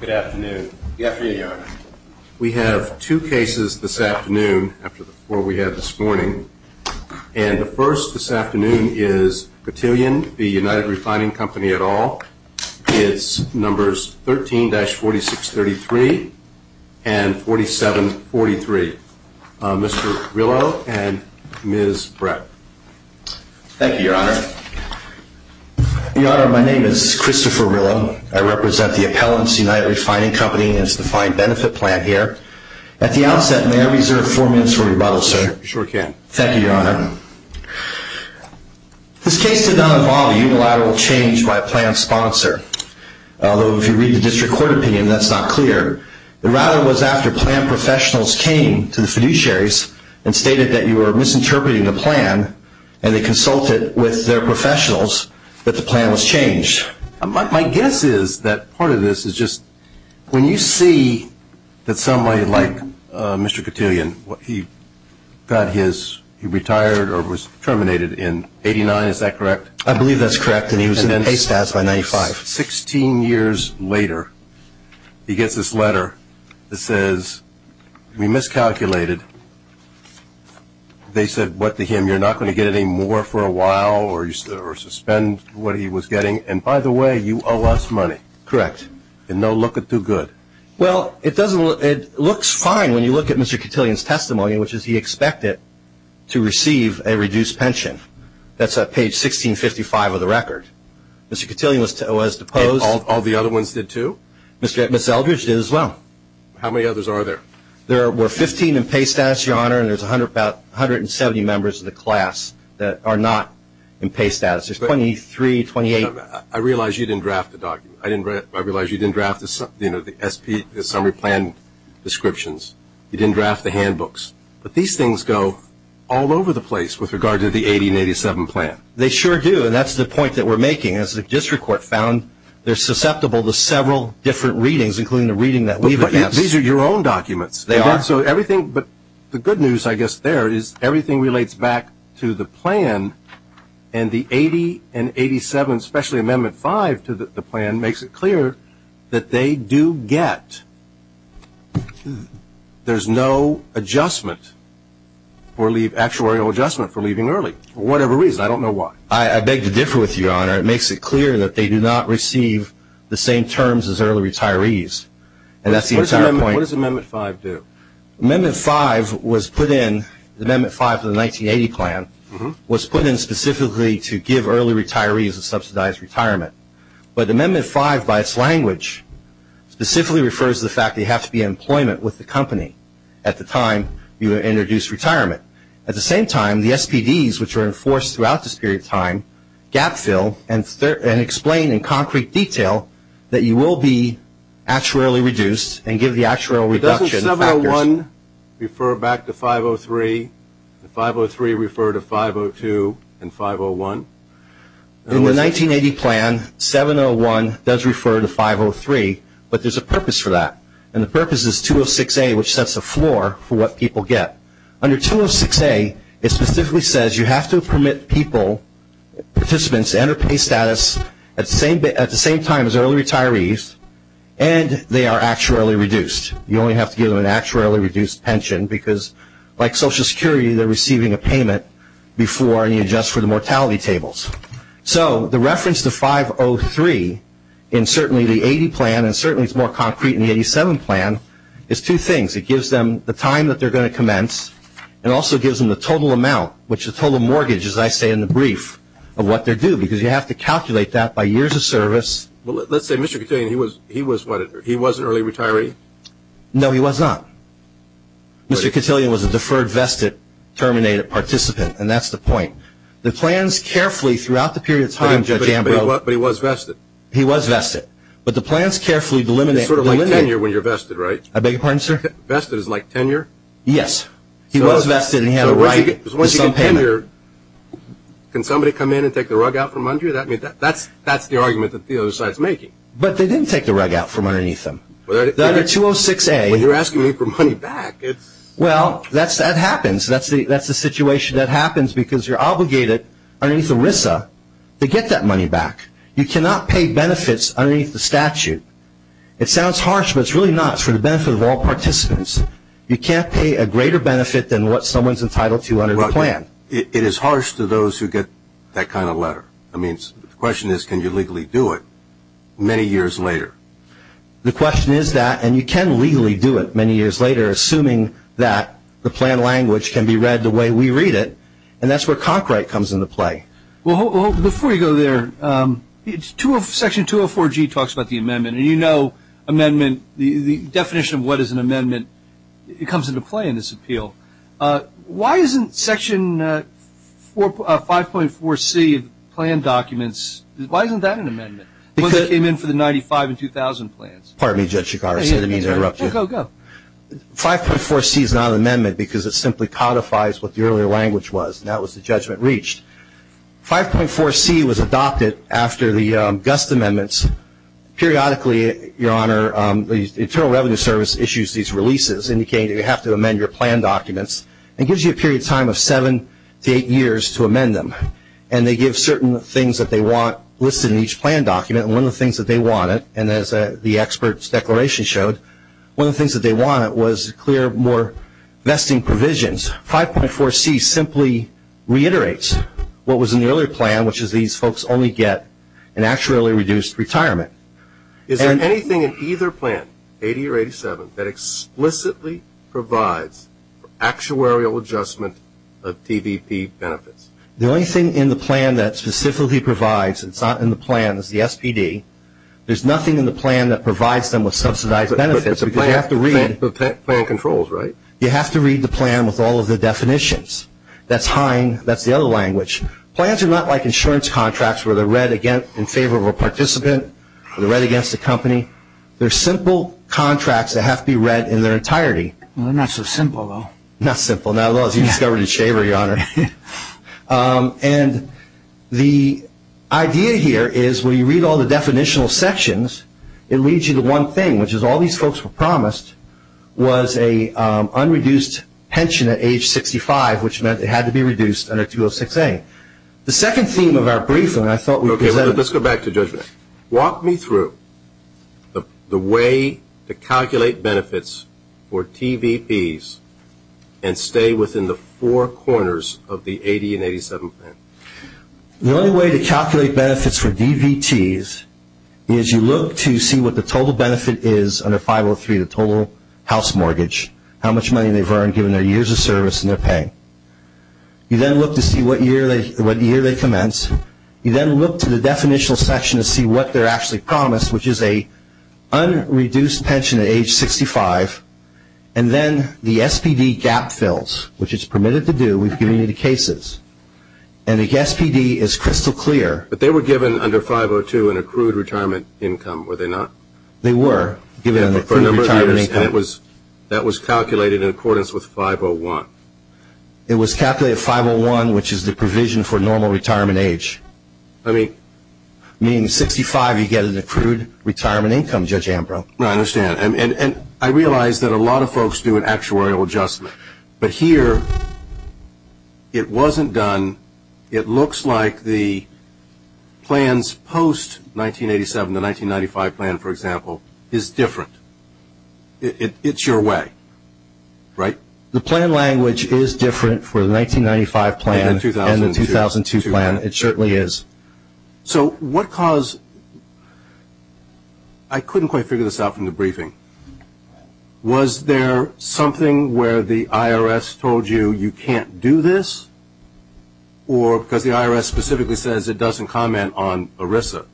Good afternoon. Good afternoon, Your Honor. We have two cases this afternoon after the four we had this morning. And the first this afternoon is Petillion v. United Refining Company et al. It's numbers 13-4633 and 4743. Mr. Rillo and Ms. Brett. Thank you, Your Honor. Your Honor, my name is Christopher Rillo. I represent the Appellants United Refining Company and it's defined benefit plan here. At the outset, may I reserve four minutes for rebuttal, sir? You sure can. Thank you, Your Honor. This case did not involve a unilateral change by a plan sponsor. Although if you read the district court opinion, that's not clear. The rattle was after plan professionals came to the fiduciaries and stated that you were misinterpreting the plan and they consulted with their professionals that the plan was changed. My guess is that part of this is just when you see that somebody like Mr. Petillion, he got his, he retired or was terminated in 89, is that correct? I believe that's correct and he was in pay status by 95. Sixteen years later, he gets this letter that says we miscalculated. They said what to him, you're not going to get any more for a while or suspend what he was getting and by the way, you owe us money. Correct. In no look of too good. Well, it doesn't look, it looks fine when you look at Mr. Petillion's testimony, which is he expected to receive a reduced pension. That's at page 1655 of the record. Mr. Petillion was deposed. All the other ones did too? Ms. Eldridge did as well. How many others are there? There were 15 in pay status, your honor, and there's about 170 members of the class that are not in pay status. There's 23, 28. I realize you didn't draft the document. I realize you didn't draft the summary plan descriptions. You didn't draft the handbooks, but these things go all over the place with regard to the 80 and 87 plan. They sure do, and that's the point that we're making. As the district court found, they're susceptible to several different readings, including the reading that we've addressed. But these are your own documents. They are. So everything, but the good news I guess there is everything relates back to the plan, and the 80 and 87, especially amendment 5 to the plan, makes it clear that they do get, there's no adjustment or actuarial adjustment for leaving early for whatever reason. I don't know why. I beg to differ with you, your honor. It makes it clear that they do not receive the same terms as early retirees, and that's the entire point. What does amendment 5 do? Amendment 5 was put in, amendment 5 to the 1980 plan, was put in specifically to give early retirees a subsidized retirement. But amendment 5, by its language, specifically refers to the fact that you have to be in employment with the company at the time you introduce retirement. At the same time, the SPDs, which are enforced throughout this period of time, gap fill and explain in concrete detail that you will be actuarially reduced and give the actuarial reduction factors. But doesn't 701 refer back to 503, and 503 refer to 502 and 501? In the 1980 plan, 701 does refer to 503, but there's a purpose for that, and the purpose is 206A, which sets the floor for what people get. Under 206A, it specifically says you have to permit people, participants, to enter pay status at the same time as early retirees, and they are actuarially reduced. You only have to give them an actuarially reduced pension because, like Social Security, they're receiving a payment before you adjust for the mortality tables. So the reference to 503 in certainly the 80 plan, and certainly it's more concrete in the 87 plan, is two things. It gives them the time that they're going to commence, and also gives them the total amount, which is total mortgage, as I say in the brief, of what they're due, because you have to calculate that by years of service. Well, let's say Mr. Cotillion, he was what? He was an early retiree? No, he was not. Mr. Cotillion was a deferred vested terminated participant, and that's the point. The plans carefully throughout the period of time, Judge Ambrose. But he was vested. He was vested, but the plans carefully delimit. It's sort of like tenure when you're vested, right? I beg your pardon, sir? Vested is like tenure? Yes. He was vested, and he had a right to some payment. So once you get tenure, can somebody come in and take the rug out from under you? That's the argument that the other side's making. But they didn't take the rug out from underneath them. Whether they did. Under 206A. When you're asking me for money back, it's... Well, that happens. That's the situation that happens because you're obligated, underneath ERISA, to get that money back. You cannot pay benefits underneath the statute. It sounds harsh, but it's really not. It's for the benefit of all participants. You can't pay a greater benefit than what someone's entitled to under the plan. It is harsh to those who get that kind of letter. The question is, can you legally do it many years later? The question is that, and you can legally do it many years later, assuming that the plan language can be read the way we read it. And that's where Concrite comes into play. Well, before you go there, Section 204G talks about the amendment. And you know the definition of what is an amendment comes into play in this appeal. Why isn't Section 5.4C of the plan documents, why isn't that an amendment? It came in for the 95 and 2000 plans. Pardon me, Judge Chicago. Sorry to interrupt you. Go, go, go. 5.4C is not an amendment because it simply codifies what the earlier language was. And that was the judgment reached. 5.4C was adopted after the Gust amendments. Periodically, Your Honor, the Internal Revenue Service issues these releases indicating that you have to amend your plan documents. It gives you a period of time of seven to eight years to amend them. And they give certain things that they want listed in each plan document. And one of the things that they wanted, and as the expert's declaration showed, one of the things that they wanted was clear, more vesting provisions. 5.4C simply reiterates what was in the earlier plan, which is these folks only get an actuarially reduced retirement. Is there anything in either plan, 80 or 87, that explicitly provides actuarial adjustment of TVP benefits? The only thing in the plan that specifically provides, it's not in the plan, is the SPD. There's nothing in the plan that provides them with subsidized benefits. But the plan controls, right? You have to read the plan with all of the definitions. That's HINE. That's the other language. Plans are not like insurance contracts where they're read in favor of a participant or they're read against a company. They're simple contracts that have to be read in their entirety. They're not so simple, though. Not simple, not at all, as you discovered in Shaver, Your Honor. And the idea here is when you read all the definitional sections, it leads you to one thing, which is all these folks were promised was an unreduced pension at age 65, which meant it had to be reduced under 206A. The second theme of our briefing I thought we presented. Let's go back to judgment. Walk me through the way to calculate benefits for TVPs and stay within the four corners of the 80 and 87 plan. The only way to calculate benefits for DVTs is you look to see what the total benefit is under 503, the total house mortgage, how much money they've earned given their years of service and their pay. You then look to see what year they commence. You then look to the definitional section to see what they're actually promised, which is an unreduced pension at age 65. And then the SPD gap fills, which it's permitted to do. We've given you the cases. And the SPD is crystal clear. But they were given under 502 an accrued retirement income, were they not? They were given an accrued retirement income. And that was calculated in accordance with 501? It was calculated 501, which is the provision for normal retirement age. Meaning 65 you get an accrued retirement income, Judge Ambrose. I understand. And I realize that a lot of folks do an actuarial adjustment. But here it wasn't done. It looks like the plans post-1987, the 1995 plan, for example, is different. It's your way, right? The plan language is different for the 1995 plan and the 2002 plan. It certainly is. So what caused – I couldn't quite figure this out from the briefing. Was there something where the IRS told you you can't do this? Or because the IRS specifically says it doesn't comment on ERISA?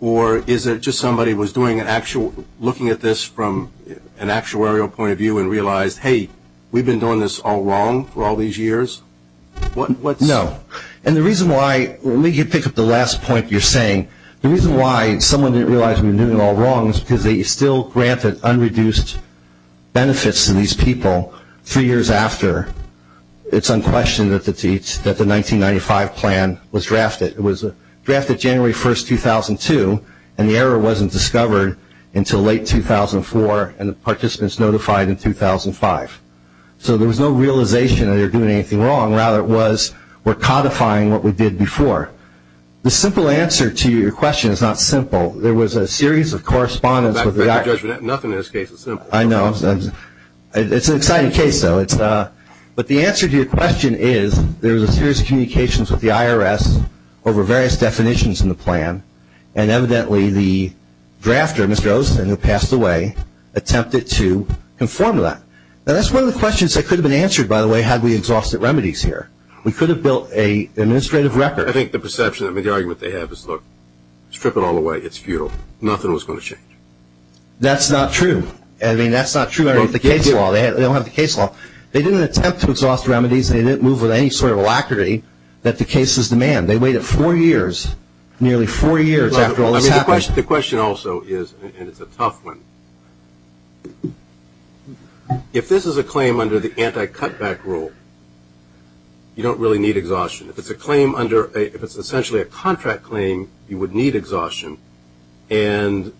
Or is it just somebody was doing an actual – looking at this from an actuarial point of view and realized, hey, we've been doing this all wrong for all these years? No. And the reason why – let me pick up the last point you're saying. The reason why someone didn't realize we were doing it all wrong is because they still granted unreduced benefits to these people three years after it's unquestioned that the 1995 plan was drafted. It was drafted January 1, 2002, and the error wasn't discovered until late 2004 and the participants notified in 2005. So there was no realization that they were doing anything wrong. Rather, it was we're codifying what we did before. The simple answer to your question is not simple. There was a series of correspondence with the IRS. Nothing in this case is simple. I know. It's an exciting case, though. But the answer to your question is there was a series of communications with the IRS over various definitions in the plan, and evidently the drafter, Mr. Olsen, who passed away, attempted to conform to that. Now, that's one of the questions that could have been answered, by the way, had we exhausted remedies here. We could have built an administrative record. I think the perception, I mean, the argument they have is, look, strip it all away. It's futile. Nothing was going to change. That's not true. I mean, that's not true. They don't have the case law. They didn't attempt to exhaust remedies. They didn't move with any sort of alacrity that the cases demand. They waited four years, nearly four years after all this happened. The question also is, and it's a tough one, if this is a claim under the anti-cutback rule, you don't really need exhaustion. If it's essentially a contract claim, you would need exhaustion. And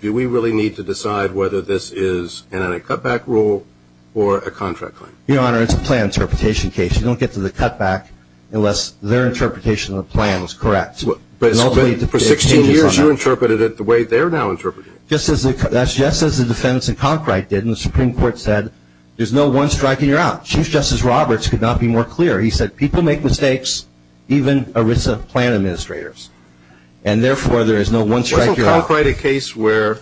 do we really need to decide whether this is an anti-cutback rule or a contract claim? Your Honor, it's a plan interpretation case. You don't get to the cutback unless their interpretation of the plan was correct. But for 16 years you interpreted it the way they're now interpreting it. That's just as the defendants in Concrite did, and the Supreme Court said, there's no one strike and you're out. Chief Justice Roberts could not be more clear. He said people make mistakes, even ERISA plan administrators, and therefore there is no one strike, you're out. Wasn't Concrite a case where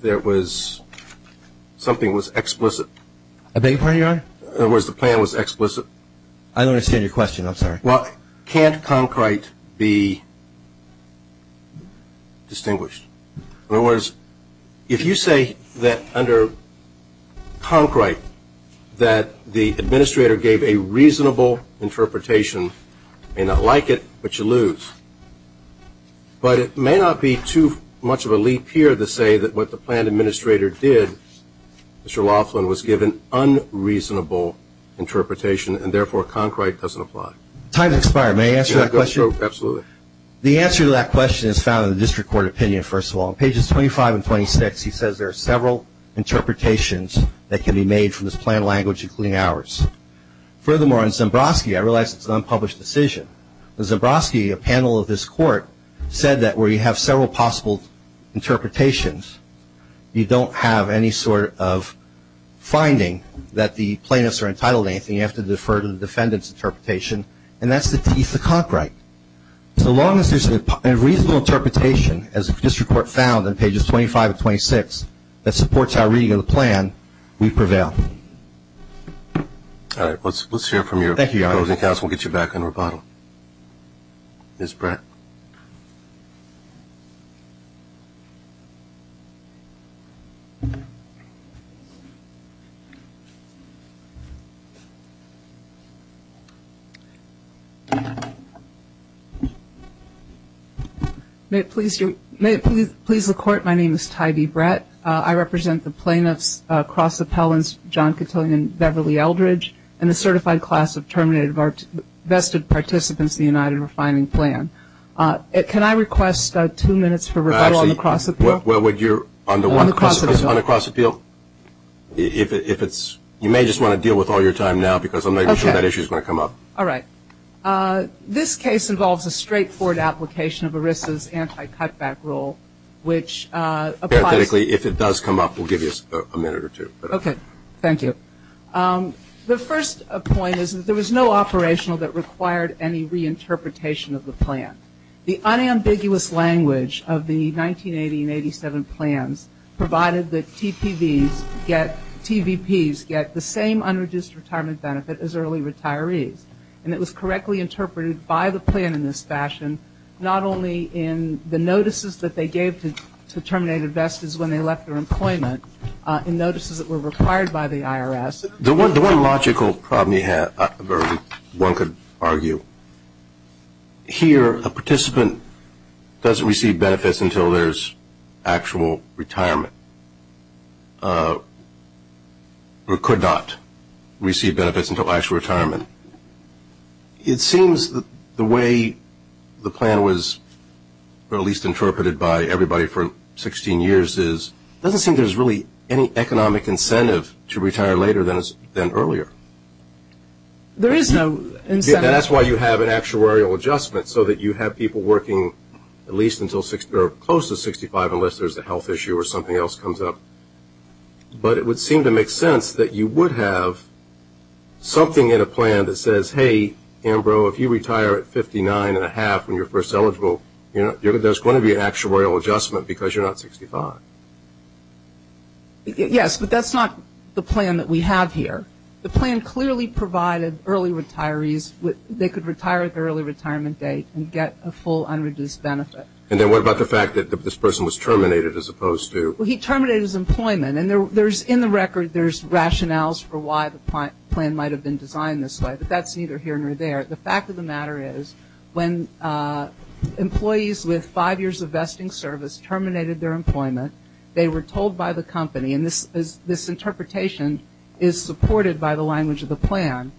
there was something that was explicit? I beg your pardon, Your Honor? In other words, the plan was explicit. I don't understand your question. I'm sorry. Well, can't Concrite be distinguished? In other words, if you say that under Concrite that the administrator gave a reasonable interpretation, you may not like it, but you lose. But it may not be too much of a leap here to say that what the plan administrator did, Mr. Laughlin, was give an unreasonable interpretation, and therefore Concrite doesn't apply. Time has expired. May I answer that question? Absolutely. The answer to that question is found in the district court opinion, first of all. On pages 25 and 26, he says there are several interpretations that can be made from this plan language, including ours. Furthermore, in Zembrowski, I realize it's an unpublished decision, but Zembrowski, a panel of this court, said that where you have several possible interpretations, you don't have any sort of finding that the plaintiffs are entitled to anything. You have to defer to the defendant's interpretation, and that's the Concrite. As long as there's a reasonable interpretation, as the district court found on pages 25 and 26 that supports our reading of the plan, we prevail. All right. Let's hear it from your opposing counsel. We'll get you back in rebuttal. Ms. Brett. May it please the Court, my name is Tybee Brett. I represent the plaintiffs, cross appellants John Cotillion and Beverly Eldridge and the certified class of Terminated Vested Participants in the United Refining Plan. Can I request two minutes for rebuttal on the cross appeal? Actually, well, would you, on the what? On the cross appeal. On the cross appeal. If it's you may just want to deal with all your time now, because I'm not even sure that issue is going to come up. All right. This case involves a straightforward application of ERISA's anti-cutback rule, which applies. Parenthetically, if it does come up, we'll give you a minute or two. Okay. Thank you. The first point is that there was no operational that required any reinterpretation of the plan. The unambiguous language of the 1980 and 87 plans provided that TVPs get the same unreduced retirement benefit as early retirees. And it was correctly interpreted by the plan in this fashion, not only in the notices that they gave to Terminated Vested when they left their employment, in notices that were required by the IRS. The one logical problem you have, or one could argue, here, a participant doesn't receive benefits until there's actual retirement, or could not receive benefits until actual retirement. It seems the way the plan was at least interpreted by everybody for 16 years is, it doesn't seem there's really any economic incentive to retire later than earlier. There is no incentive. That's why you have an actuarial adjustment, so that you have people working at least until close to 65 unless there's a health issue or something else comes up. But it would seem to make sense that you would have something in a plan that says, hey, Ambrose, if you retire at 59 and a half when you're first eligible, there's going to be an actuarial adjustment because you're not 65. Yes, but that's not the plan that we have here. The plan clearly provided early retirees, they could retire at the early retirement date and get a full unreduced benefit. And then what about the fact that this person was terminated as opposed to? Well, he terminated his employment, and in the record there's rationales for why the plan might have been designed this way, but that's neither here nor there. The fact of the matter is when employees with five years of vesting service terminated their employment, they were told by the company, and this interpretation is supported by the language of the plan,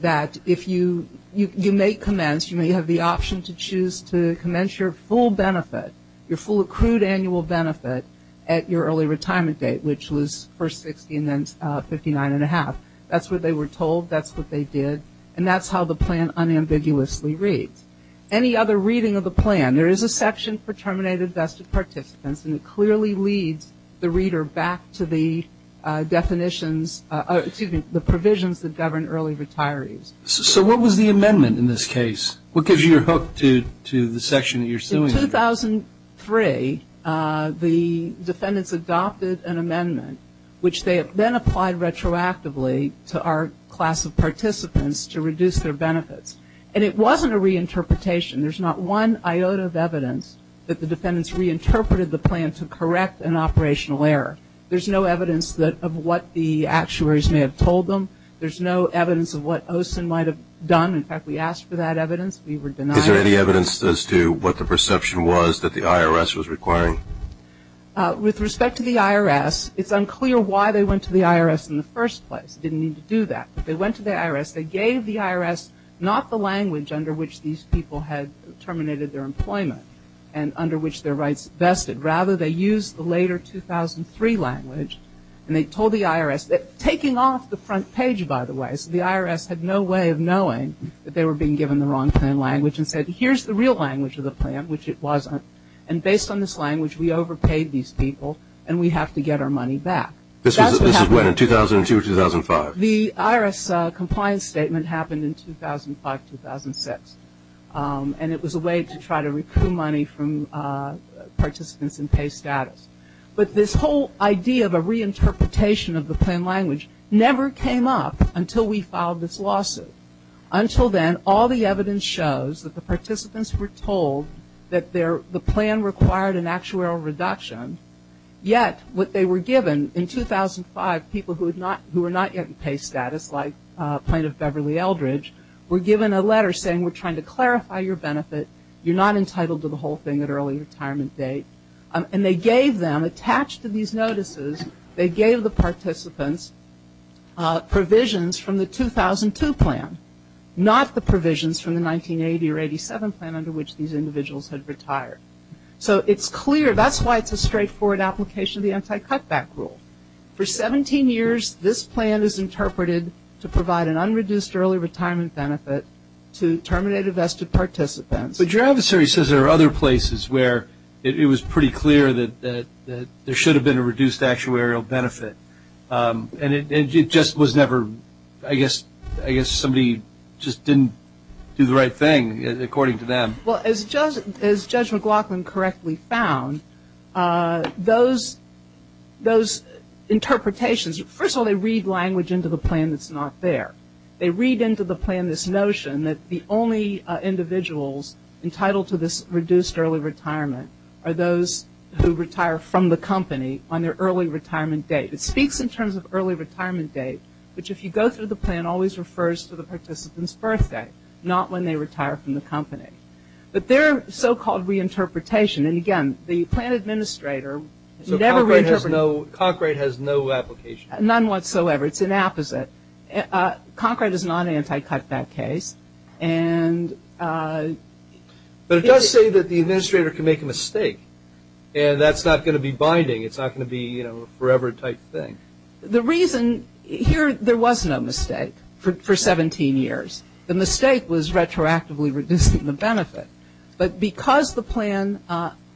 that you may commence, you may have the option to choose to commence your full benefit, your full accrued annual benefit at your early retirement date, which was first 60 and then 59 and a half. That's what they were told. That's what they did. And that's how the plan unambiguously reads. Any other reading of the plan, there is a section for terminated vested participants, and it clearly leads the reader back to the definitions, excuse me, the provisions that govern early retirees. So what was the amendment in this case? What gives you your hook to the section that you're suing? In 2003, the defendants adopted an amendment, which they then applied retroactively to our class of participants to reduce their benefits. And it wasn't a reinterpretation. There's not one iota of evidence that the defendants reinterpreted the plan to correct an operational error. There's no evidence of what the actuaries may have told them. There's no evidence of what OSIN might have done. In fact, we asked for that evidence. We were denied it. Is there any evidence as to what the perception was that the IRS was requiring? With respect to the IRS, it's unclear why they went to the IRS in the first place. They didn't need to do that. But they went to the IRS. They gave the IRS not the language under which these people had terminated their employment and under which their rights vested. Rather, they used the later 2003 language. And they told the IRS, taking off the front page, by the way, so the IRS had no way of knowing that they were being given the wrong plan language, and said, here's the real language of the plan, which it wasn't. And based on this language, we overpaid these people, and we have to get our money back. This is when, in 2002 or 2005? The IRS compliance statement happened in 2005, 2006. And it was a way to try to recoup money from participants in pay status. But this whole idea of a reinterpretation of the plan language never came up until we filed this lawsuit. Until then, all the evidence shows that the participants were told that the plan required an actuarial reduction. Yet, what they were given in 2005, people who were not yet in pay status, like Plaintiff Beverly Eldridge, were given a letter saying, we're trying to clarify your benefit. You're not entitled to the whole thing at early retirement date. And they gave them, attached to these notices, they gave the participants provisions from the 2002 plan, not the provisions from the 1980 or 87 plan under which these individuals had retired. So it's clear, that's why it's a straightforward application of the anti-cutback rule. For 17 years, this plan is interpreted to provide an unreduced early retirement benefit to terminated vested participants. But your adversary says there are other places where it was pretty clear that there should have been a reduced actuarial benefit. And it just was never, I guess somebody just didn't do the right thing, according to them. Well, as Judge McLaughlin correctly found, those interpretations, first of all, they read language into the plan that's not there. They read into the plan this notion that the only individuals entitled to this reduced early retirement are those who retire from the company on their early retirement date. It speaks in terms of early retirement date, which if you go through the plan, always refers to the participant's birthday, not when they retire from the company. But their so-called reinterpretation, and again, the plan administrator has never reinterpreted. So Cochrane has no application? None whatsoever. It's an opposite. Cochrane does not anti-cutback case. But it does say that the administrator can make a mistake, and that's not going to be binding. It's not going to be a forever type thing. The reason here, there was no mistake for 17 years. The mistake was retroactively reducing the benefit. But because the plan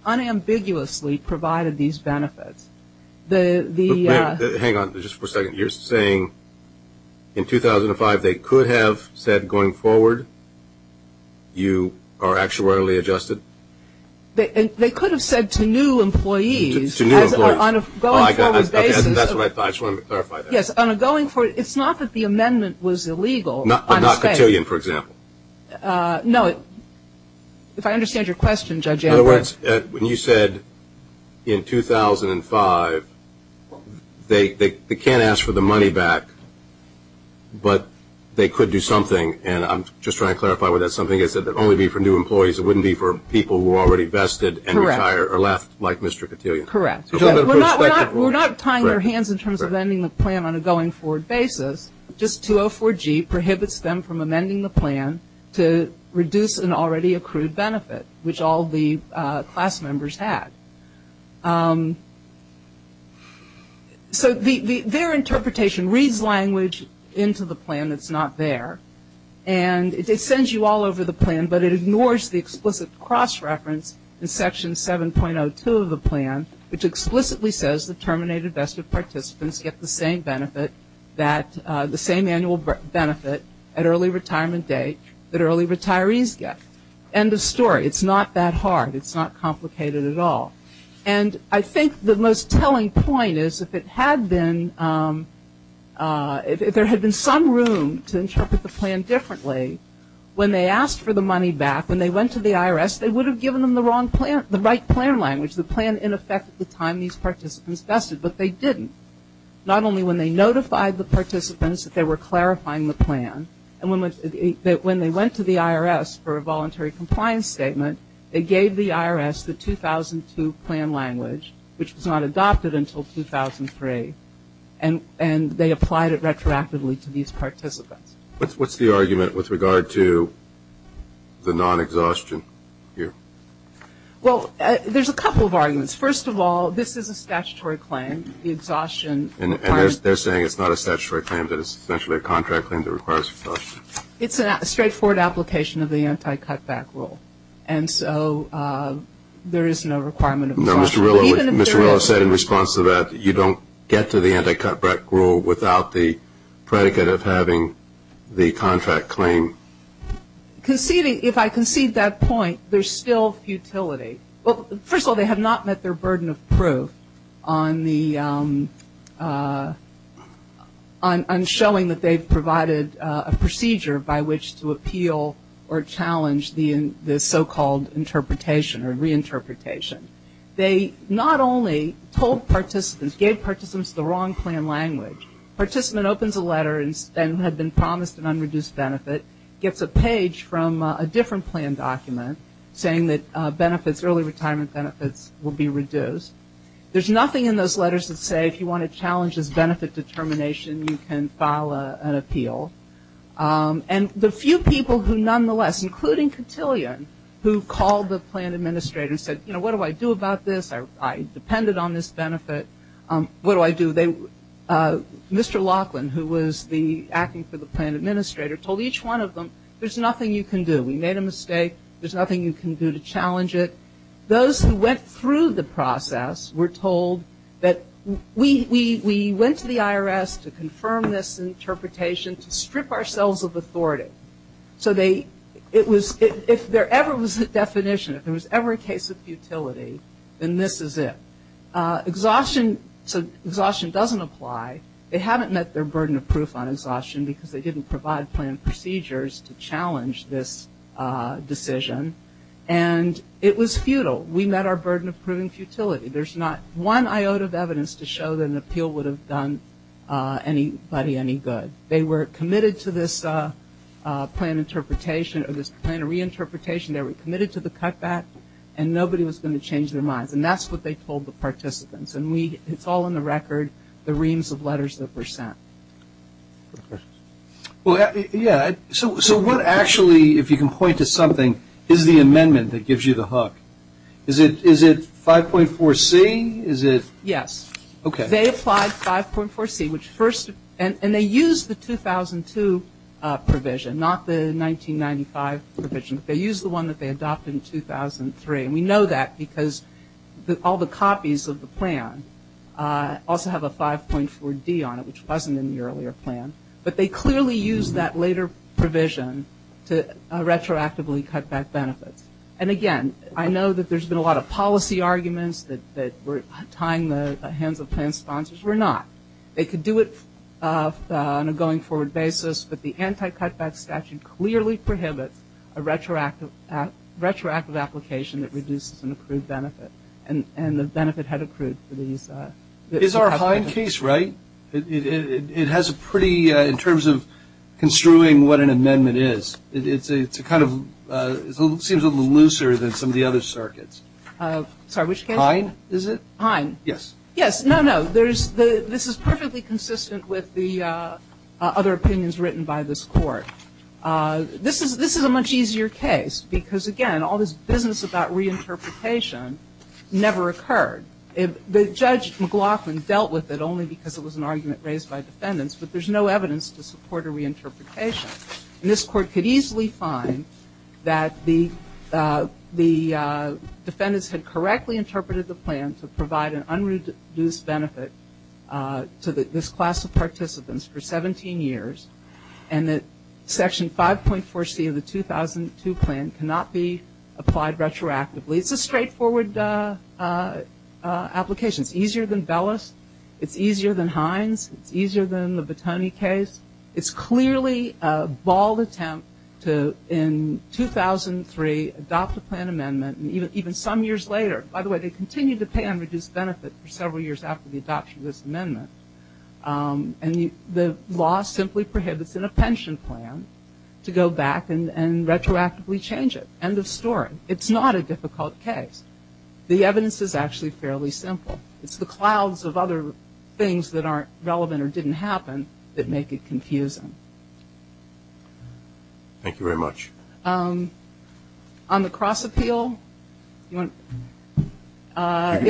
unambiguously provided these benefits, the ‑‑ Hang on just for a second. You're saying in 2005 they could have said going forward you are actuarially adjusted? They could have said to new employees. To new employees. On a going forward basis. That's what I thought. I just wanted to clarify that. Yes. On a going forward ‑‑ it's not that the amendment was illegal. Not Cotillion, for example. No. If I understand your question, Judge Ambrose. In other words, when you said in 2005, they can't ask for the money back, but they could do something. And I'm just trying to clarify what that something is. It would only be for new employees. It wouldn't be for people who are already vested and retire or left like Mr. Cotillion. Correct. We're not tying their hands in terms of ending the plan on a going forward basis. Just 204G prohibits them from amending the plan to reduce an already accrued benefit, which all the class members had. So their interpretation reads language into the plan that's not there. And it sends you all over the plan, but it ignores the explicit cross reference in Section 7.02 of the plan, which explicitly says the terminated vested participants get the same benefit, the same annual benefit at early retirement date that early retirees get. End of story. It's not that hard. It's not complicated at all. And I think the most telling point is if it had been, if there had been some room to interpret the plan differently, when they asked for the money back, when they went to the IRS, they would have given them the right plan language, the plan in effect at the time these participants vested, but they didn't. Not only when they notified the participants that they were clarifying the plan, but when they went to the IRS for a voluntary compliance statement, they gave the IRS the 2002 plan language, which was not adopted until 2003, and they applied it retroactively to these participants. What's the argument with regard to the non-exhaustion here? Well, there's a couple of arguments. First of all, this is a statutory claim, the exhaustion. And they're saying it's not a statutory claim, that it's essentially a contract claim that requires exhaustion. It's a straightforward application of the anti-cutback rule. And so there is no requirement of exhaustion. No, Mr. Rillo said in response to that, you don't get to the anti-cutback rule without the predicate of having the contract claim. Conceding, if I concede that point, there's still futility. Well, first of all, they have not met their burden of proof on showing that they've provided a procedure by which to appeal or challenge the so-called interpretation or reinterpretation. They not only told participants, gave participants the wrong plan language. Participant opens a letter and had been promised an unreduced benefit, gets a page from a different plan document saying that benefits, early retirement benefits, will be reduced. There's nothing in those letters that say if you want to challenge this benefit determination, you can file an appeal. And the few people who nonetheless, including Cotillion, who called the plan administrator and said, you know, what do I do about this? I depended on this benefit. What do I do? Mr. Laughlin, who was the acting for the plan administrator, told each one of them, there's nothing you can do. We made a mistake. There's nothing you can do to challenge it. Those who went through the process were told that we went to the IRS to confirm this interpretation, to strip ourselves of authority. So if there ever was a definition, if there was ever a case of futility, then this is it. Exhaustion doesn't apply. They haven't met their burden of proof on exhaustion because they didn't provide planned procedures to challenge this decision. And it was futile. We met our burden of proving futility. There's not one iota of evidence to show that an appeal would have done anybody any good. They were committed to this plan interpretation or this plan of reinterpretation. They were committed to the cutback, and nobody was going to change their minds. And that's what they told the participants. And it's all in the record, the reams of letters that were sent. So what actually, if you can point to something, is the amendment that gives you the hook? Is it 5.4C? Yes. They applied 5.4C, and they used the 2002 provision, not the 1995 provision. They used the one that they adopted in 2003. And we know that because all the copies of the plan also have a 5.4D on it, which wasn't in the earlier plan. But they clearly used that later provision to retroactively cut back benefits. And, again, I know that there's been a lot of policy arguments that were tying the hands of plan sponsors. We're not. They could do it on a going-forward basis, but the anti-cutback statute clearly prohibits a retroactive application that reduces an accrued benefit. And the benefit had accrued for these. Is our Heim case right? It has a pretty, in terms of construing what an amendment is, it seems a little looser than some of the other circuits. Sorry, which case? Heim, is it? Heim. Yes. Yes. No, no. This is perfectly consistent with the other opinions written by this Court. This is a much easier case because, again, all this business about reinterpretation never occurred. Judge McLaughlin dealt with it only because it was an argument raised by defendants, but there's no evidence to support a reinterpretation. And this Court could easily find that the defendants had correctly interpreted the plan to provide an unreduced benefit to this class of participants for 17 years, and that Section 5.4C of the 2002 plan cannot be applied retroactively. It's a straightforward application. It's easier than Bellis. It's easier than Heinz. It's easier than the Bottoni case. It's clearly a bald attempt to, in 2003, adopt a plan amendment, and even some years later, by the way, they continue to pay unreduced benefit for several years after the adoption of this amendment. And the law simply prohibits in a pension plan to go back and retroactively change it. End of story. It's not a difficult case. The evidence is actually fairly simple. It's the clouds of other things that aren't relevant or didn't happen that make it confusing. Thank you very much. On the cross-appeal, you want to? I'll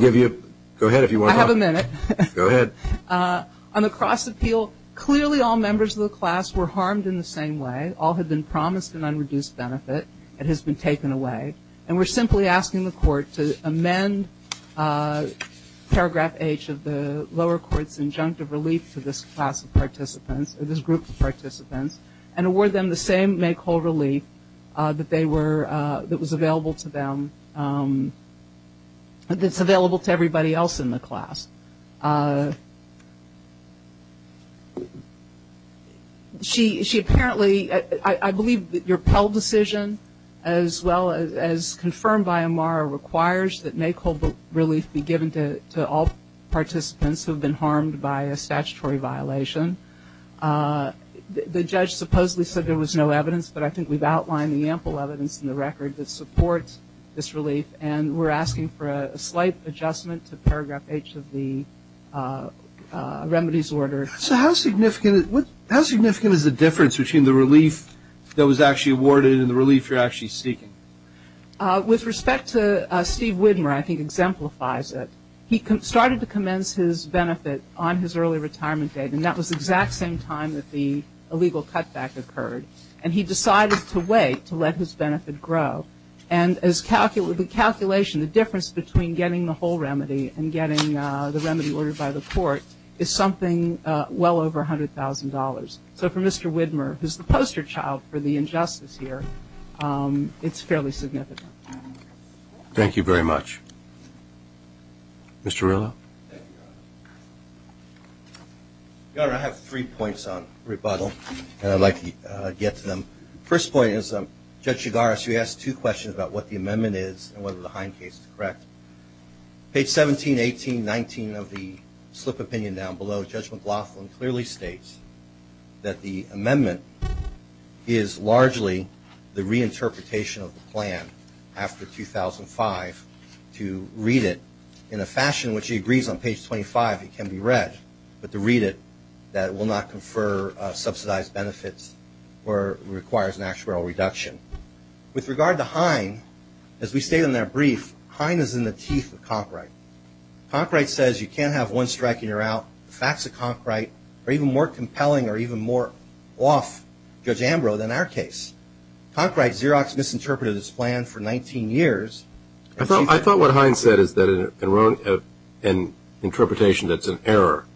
give you a go ahead if you want to. I have a minute. Go ahead. On the cross-appeal, clearly all members of the class were harmed in the same way. All had been promised an unreduced benefit. It has been taken away. And we're simply asking the Court to amend Paragraph H of the lower court's injunctive relief to this class of participants, or this group of participants, and award them the same make-hold relief that was available to them, that's available to everybody else in the class. She apparently, I believe your Pell decision, as well as confirmed by Amara, requires that make-hold relief be given to all participants who have been harmed by a statutory violation. The judge supposedly said there was no evidence, but I think we've outlined the ample evidence in the record that supports this relief, and we're asking for a slight adjustment to Paragraph H of the remedies order. So how significant is the difference between the relief that was actually awarded and the relief you're actually seeking? With respect to Steve Widmer, I think exemplifies it. He started to commence his benefit on his early retirement date, and that was the exact same time that the illegal cutback occurred, and he decided to wait to let his benefit grow. And the calculation, the difference between getting the whole remedy and getting the remedy ordered by the court is something well over $100,000. So for Mr. Widmer, who's the poster child for the injustice here, it's fairly significant. Thank you very much. Mr. Rillo? Your Honor, I have three points on rebuttal, and I'd like to get to them. The first point is Judge Chigaris, you asked two questions about what the amendment is and whether the Hine case is correct. Page 17, 18, 19 of the slip opinion down below, Judge McLaughlin clearly states that the amendment is largely the reinterpretation of the plan after 2005 to read it in a fashion in which he agrees on page 25 it can be read, but to read it that it will not confer subsidized benefits or requires an actuarial reduction. With regard to Hine, as we stated in that brief, Hine is in the teeth of Conkright. Conkright says you can't have one strike and you're out. The facts of Conkright are even more compelling or even more off Judge Ambrose than our case. Conkright's Xerox misinterpreted his plan for 19 years. I thought what Hine said is that an interpretation that's an error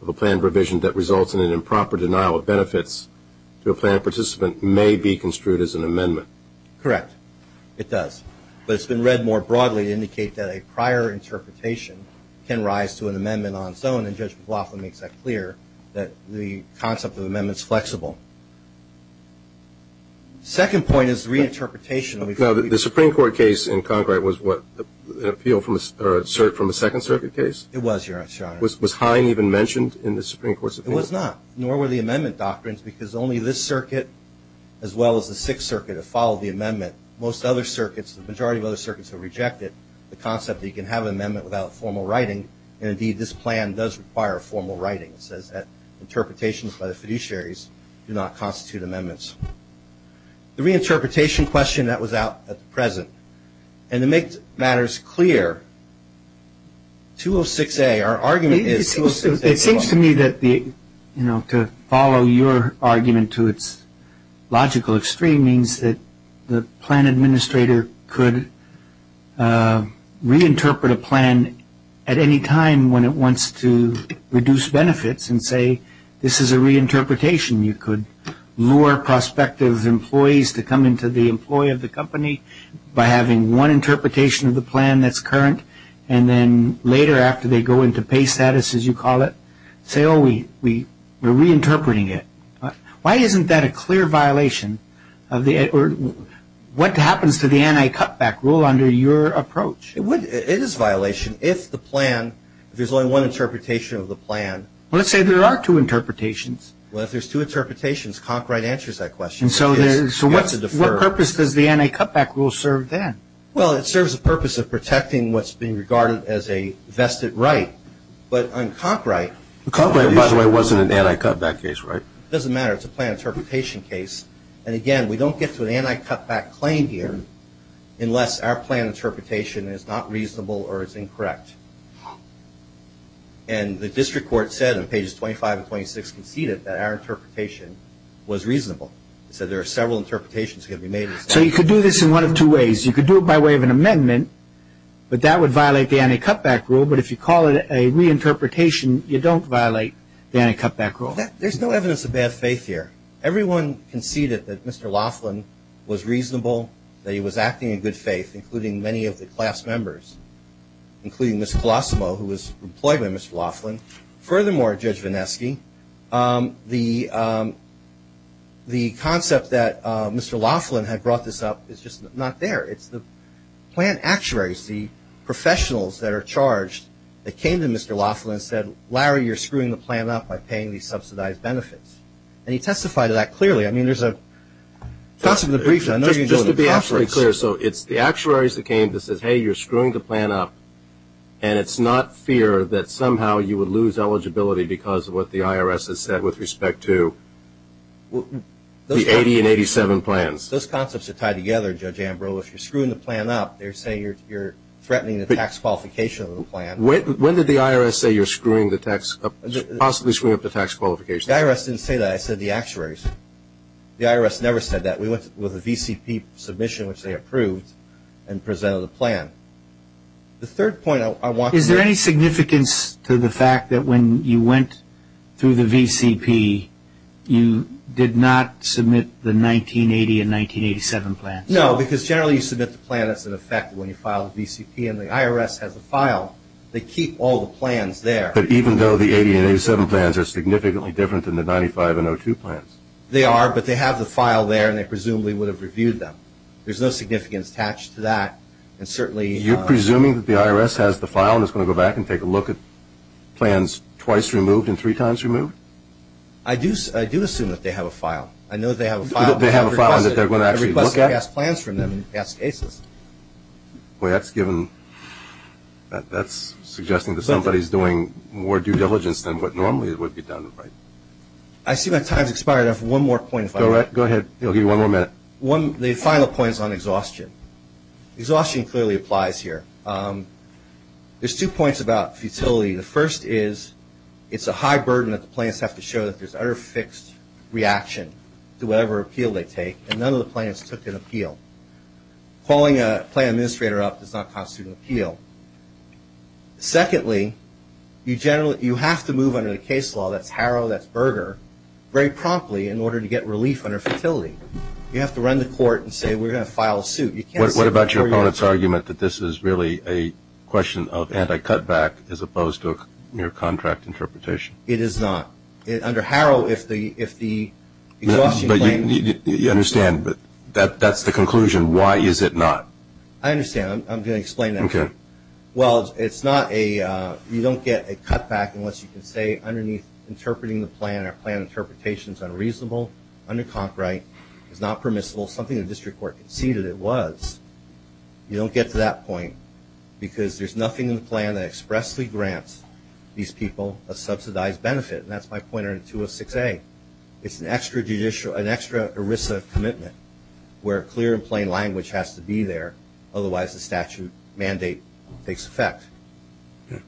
of a plan revision that results in an improper denial of benefits to a plan participant may be construed as an amendment. Correct. It does. But it's been read more broadly to indicate that a prior interpretation can rise to an amendment on its own, and Judge McLaughlin makes that clear, that the concept of amendment is flexible. The second point is reinterpretation. Now, the Supreme Court case in Conkright was what, an appeal from a Second Circuit case? It was, Your Honor. Was Hine even mentioned in the Supreme Court's appeal? It was not, nor were the amendment doctrines, the majority of other circuits have rejected the concept that you can have an amendment without formal writing, and, indeed, this plan does require formal writing. It says that interpretations by the fiduciaries do not constitute amendments. The reinterpretation question that was out at the present, and to make matters clear, 206A, our argument is 206A. It seems to me that to follow your argument to its logical extreme means that the plan administrator could reinterpret a plan at any time when it wants to reduce benefits and say this is a reinterpretation. You could lure prospective employees to come into the employee of the company by having one interpretation of the plan that's current, and then later after they go into pay status, as you call it, say, oh, we're reinterpreting it. Why isn't that a clear violation of the, or what happens to the anti-cutback rule under your approach? It is a violation if the plan, if there's only one interpretation of the plan. Well, let's say there are two interpretations. Well, if there's two interpretations, Conkright answers that question. So what purpose does the anti-cutback rule serve then? Well, it serves the purpose of protecting what's being regarded as a vested right, but on Conkright Conkright, by the way, wasn't an anti-cutback case, right? It doesn't matter. It's a plan interpretation case, and again, we don't get to an anti-cutback claim here unless our plan interpretation is not reasonable or is incorrect, and the district court said on pages 25 and 26 conceded that our interpretation was reasonable. It said there are several interpretations that can be made. So you could do this in one of two ways. You could do it by way of an amendment, but that would violate the anti-cutback rule, but if you call it a reinterpretation, you don't violate the anti-cutback rule. There's no evidence of bad faith here. Everyone conceded that Mr. Laughlin was reasonable, that he was acting in good faith, including many of the class members, including Ms. Colosimo, who was employed by Mr. Laughlin. Furthermore, Judge Vineski, the concept that Mr. Laughlin had brought this up is just not there. It's the plan actuaries, the professionals that are charged that came to Mr. Laughlin and said, Larry, you're screwing the plan up by paying these subsidized benefits, and he testified to that clearly. I mean, there's a concept of the briefs. I know you're doing the process. Just to be absolutely clear, so it's the actuaries that came that said, hey, you're screwing the plan up, and it's not fear that somehow you would lose eligibility because of what the IRS has said with respect to the 80 and 87 plans. Those concepts are tied together, Judge Ambrose. If you're screwing the plan up, they're saying you're threatening the tax qualification of the plan. When did the IRS say you're screwing the tax – possibly screwing up the tax qualification? The IRS didn't say that. I said the actuaries. The IRS never said that. We went with a VCP submission, which they approved, and presented a plan. The third point I want to make – Is there any significance to the fact that when you went through the VCP, you did not submit the 1980 and 1987 plans? No, because generally you submit the plan that's in effect when you file the VCP, and the IRS has the file. They keep all the plans there. But even though the 80 and 87 plans are significantly different than the 95 and 02 plans? They are, but they have the file there, and they presumably would have reviewed them. There's no significance attached to that. And certainly – You're presuming that the IRS has the file and is going to go back and take a look at plans twice removed and three times removed? I do assume that they have a file. I know they have a file. They have a file that they're going to actually look at? A request to pass plans from them and pass cases. Well, that's given – that's suggesting that somebody is doing more due diligence than what normally would be done, right? I see my time has expired. I have one more point if I may. Go ahead. He'll give you one more minute. The final point is on exhaustion. Exhaustion clearly applies here. There's two points about futility. The first is it's a high burden that the plans have to show that there's utter fixed reaction to whatever appeal they take, and none of the plans took an appeal. Calling a plan administrator up does not constitute an appeal. Secondly, you have to move under the case law, that's Harrow, that's Berger, very promptly in order to get relief under futility. You have to run the court and say we're going to file a suit. What about your opponent's argument that this is really a question of anti-cutback as opposed to a mere contract interpretation? It is not. Under Harrow, if the exhaustion claim – You understand, but that's the conclusion. Why is it not? I understand. I'm going to explain that. Okay. Well, it's not a – you don't get a cutback unless you can say underneath interpreting the plan, our plan interpretation is unreasonable, under copyright, is not permissible, something the district court conceded it was. You don't get to that point because there's nothing in the plan that expressly grants these people a subsidized benefit, and that's my pointer in 206A. It's an extra ERISA commitment where clear and plain language has to be there, otherwise the statute mandate takes effect. Okay.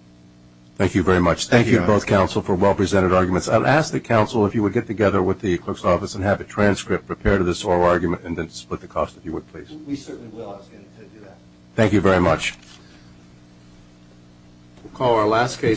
Thank you very much. Thank you to both counsel for well-presented arguments. I'll ask the counsel if you would get together with the clerk's office and have a transcript prepared of this oral argument and then split the cost if you would, please. We certainly will. I was going to do that. Thank you very much. We'll call our last case.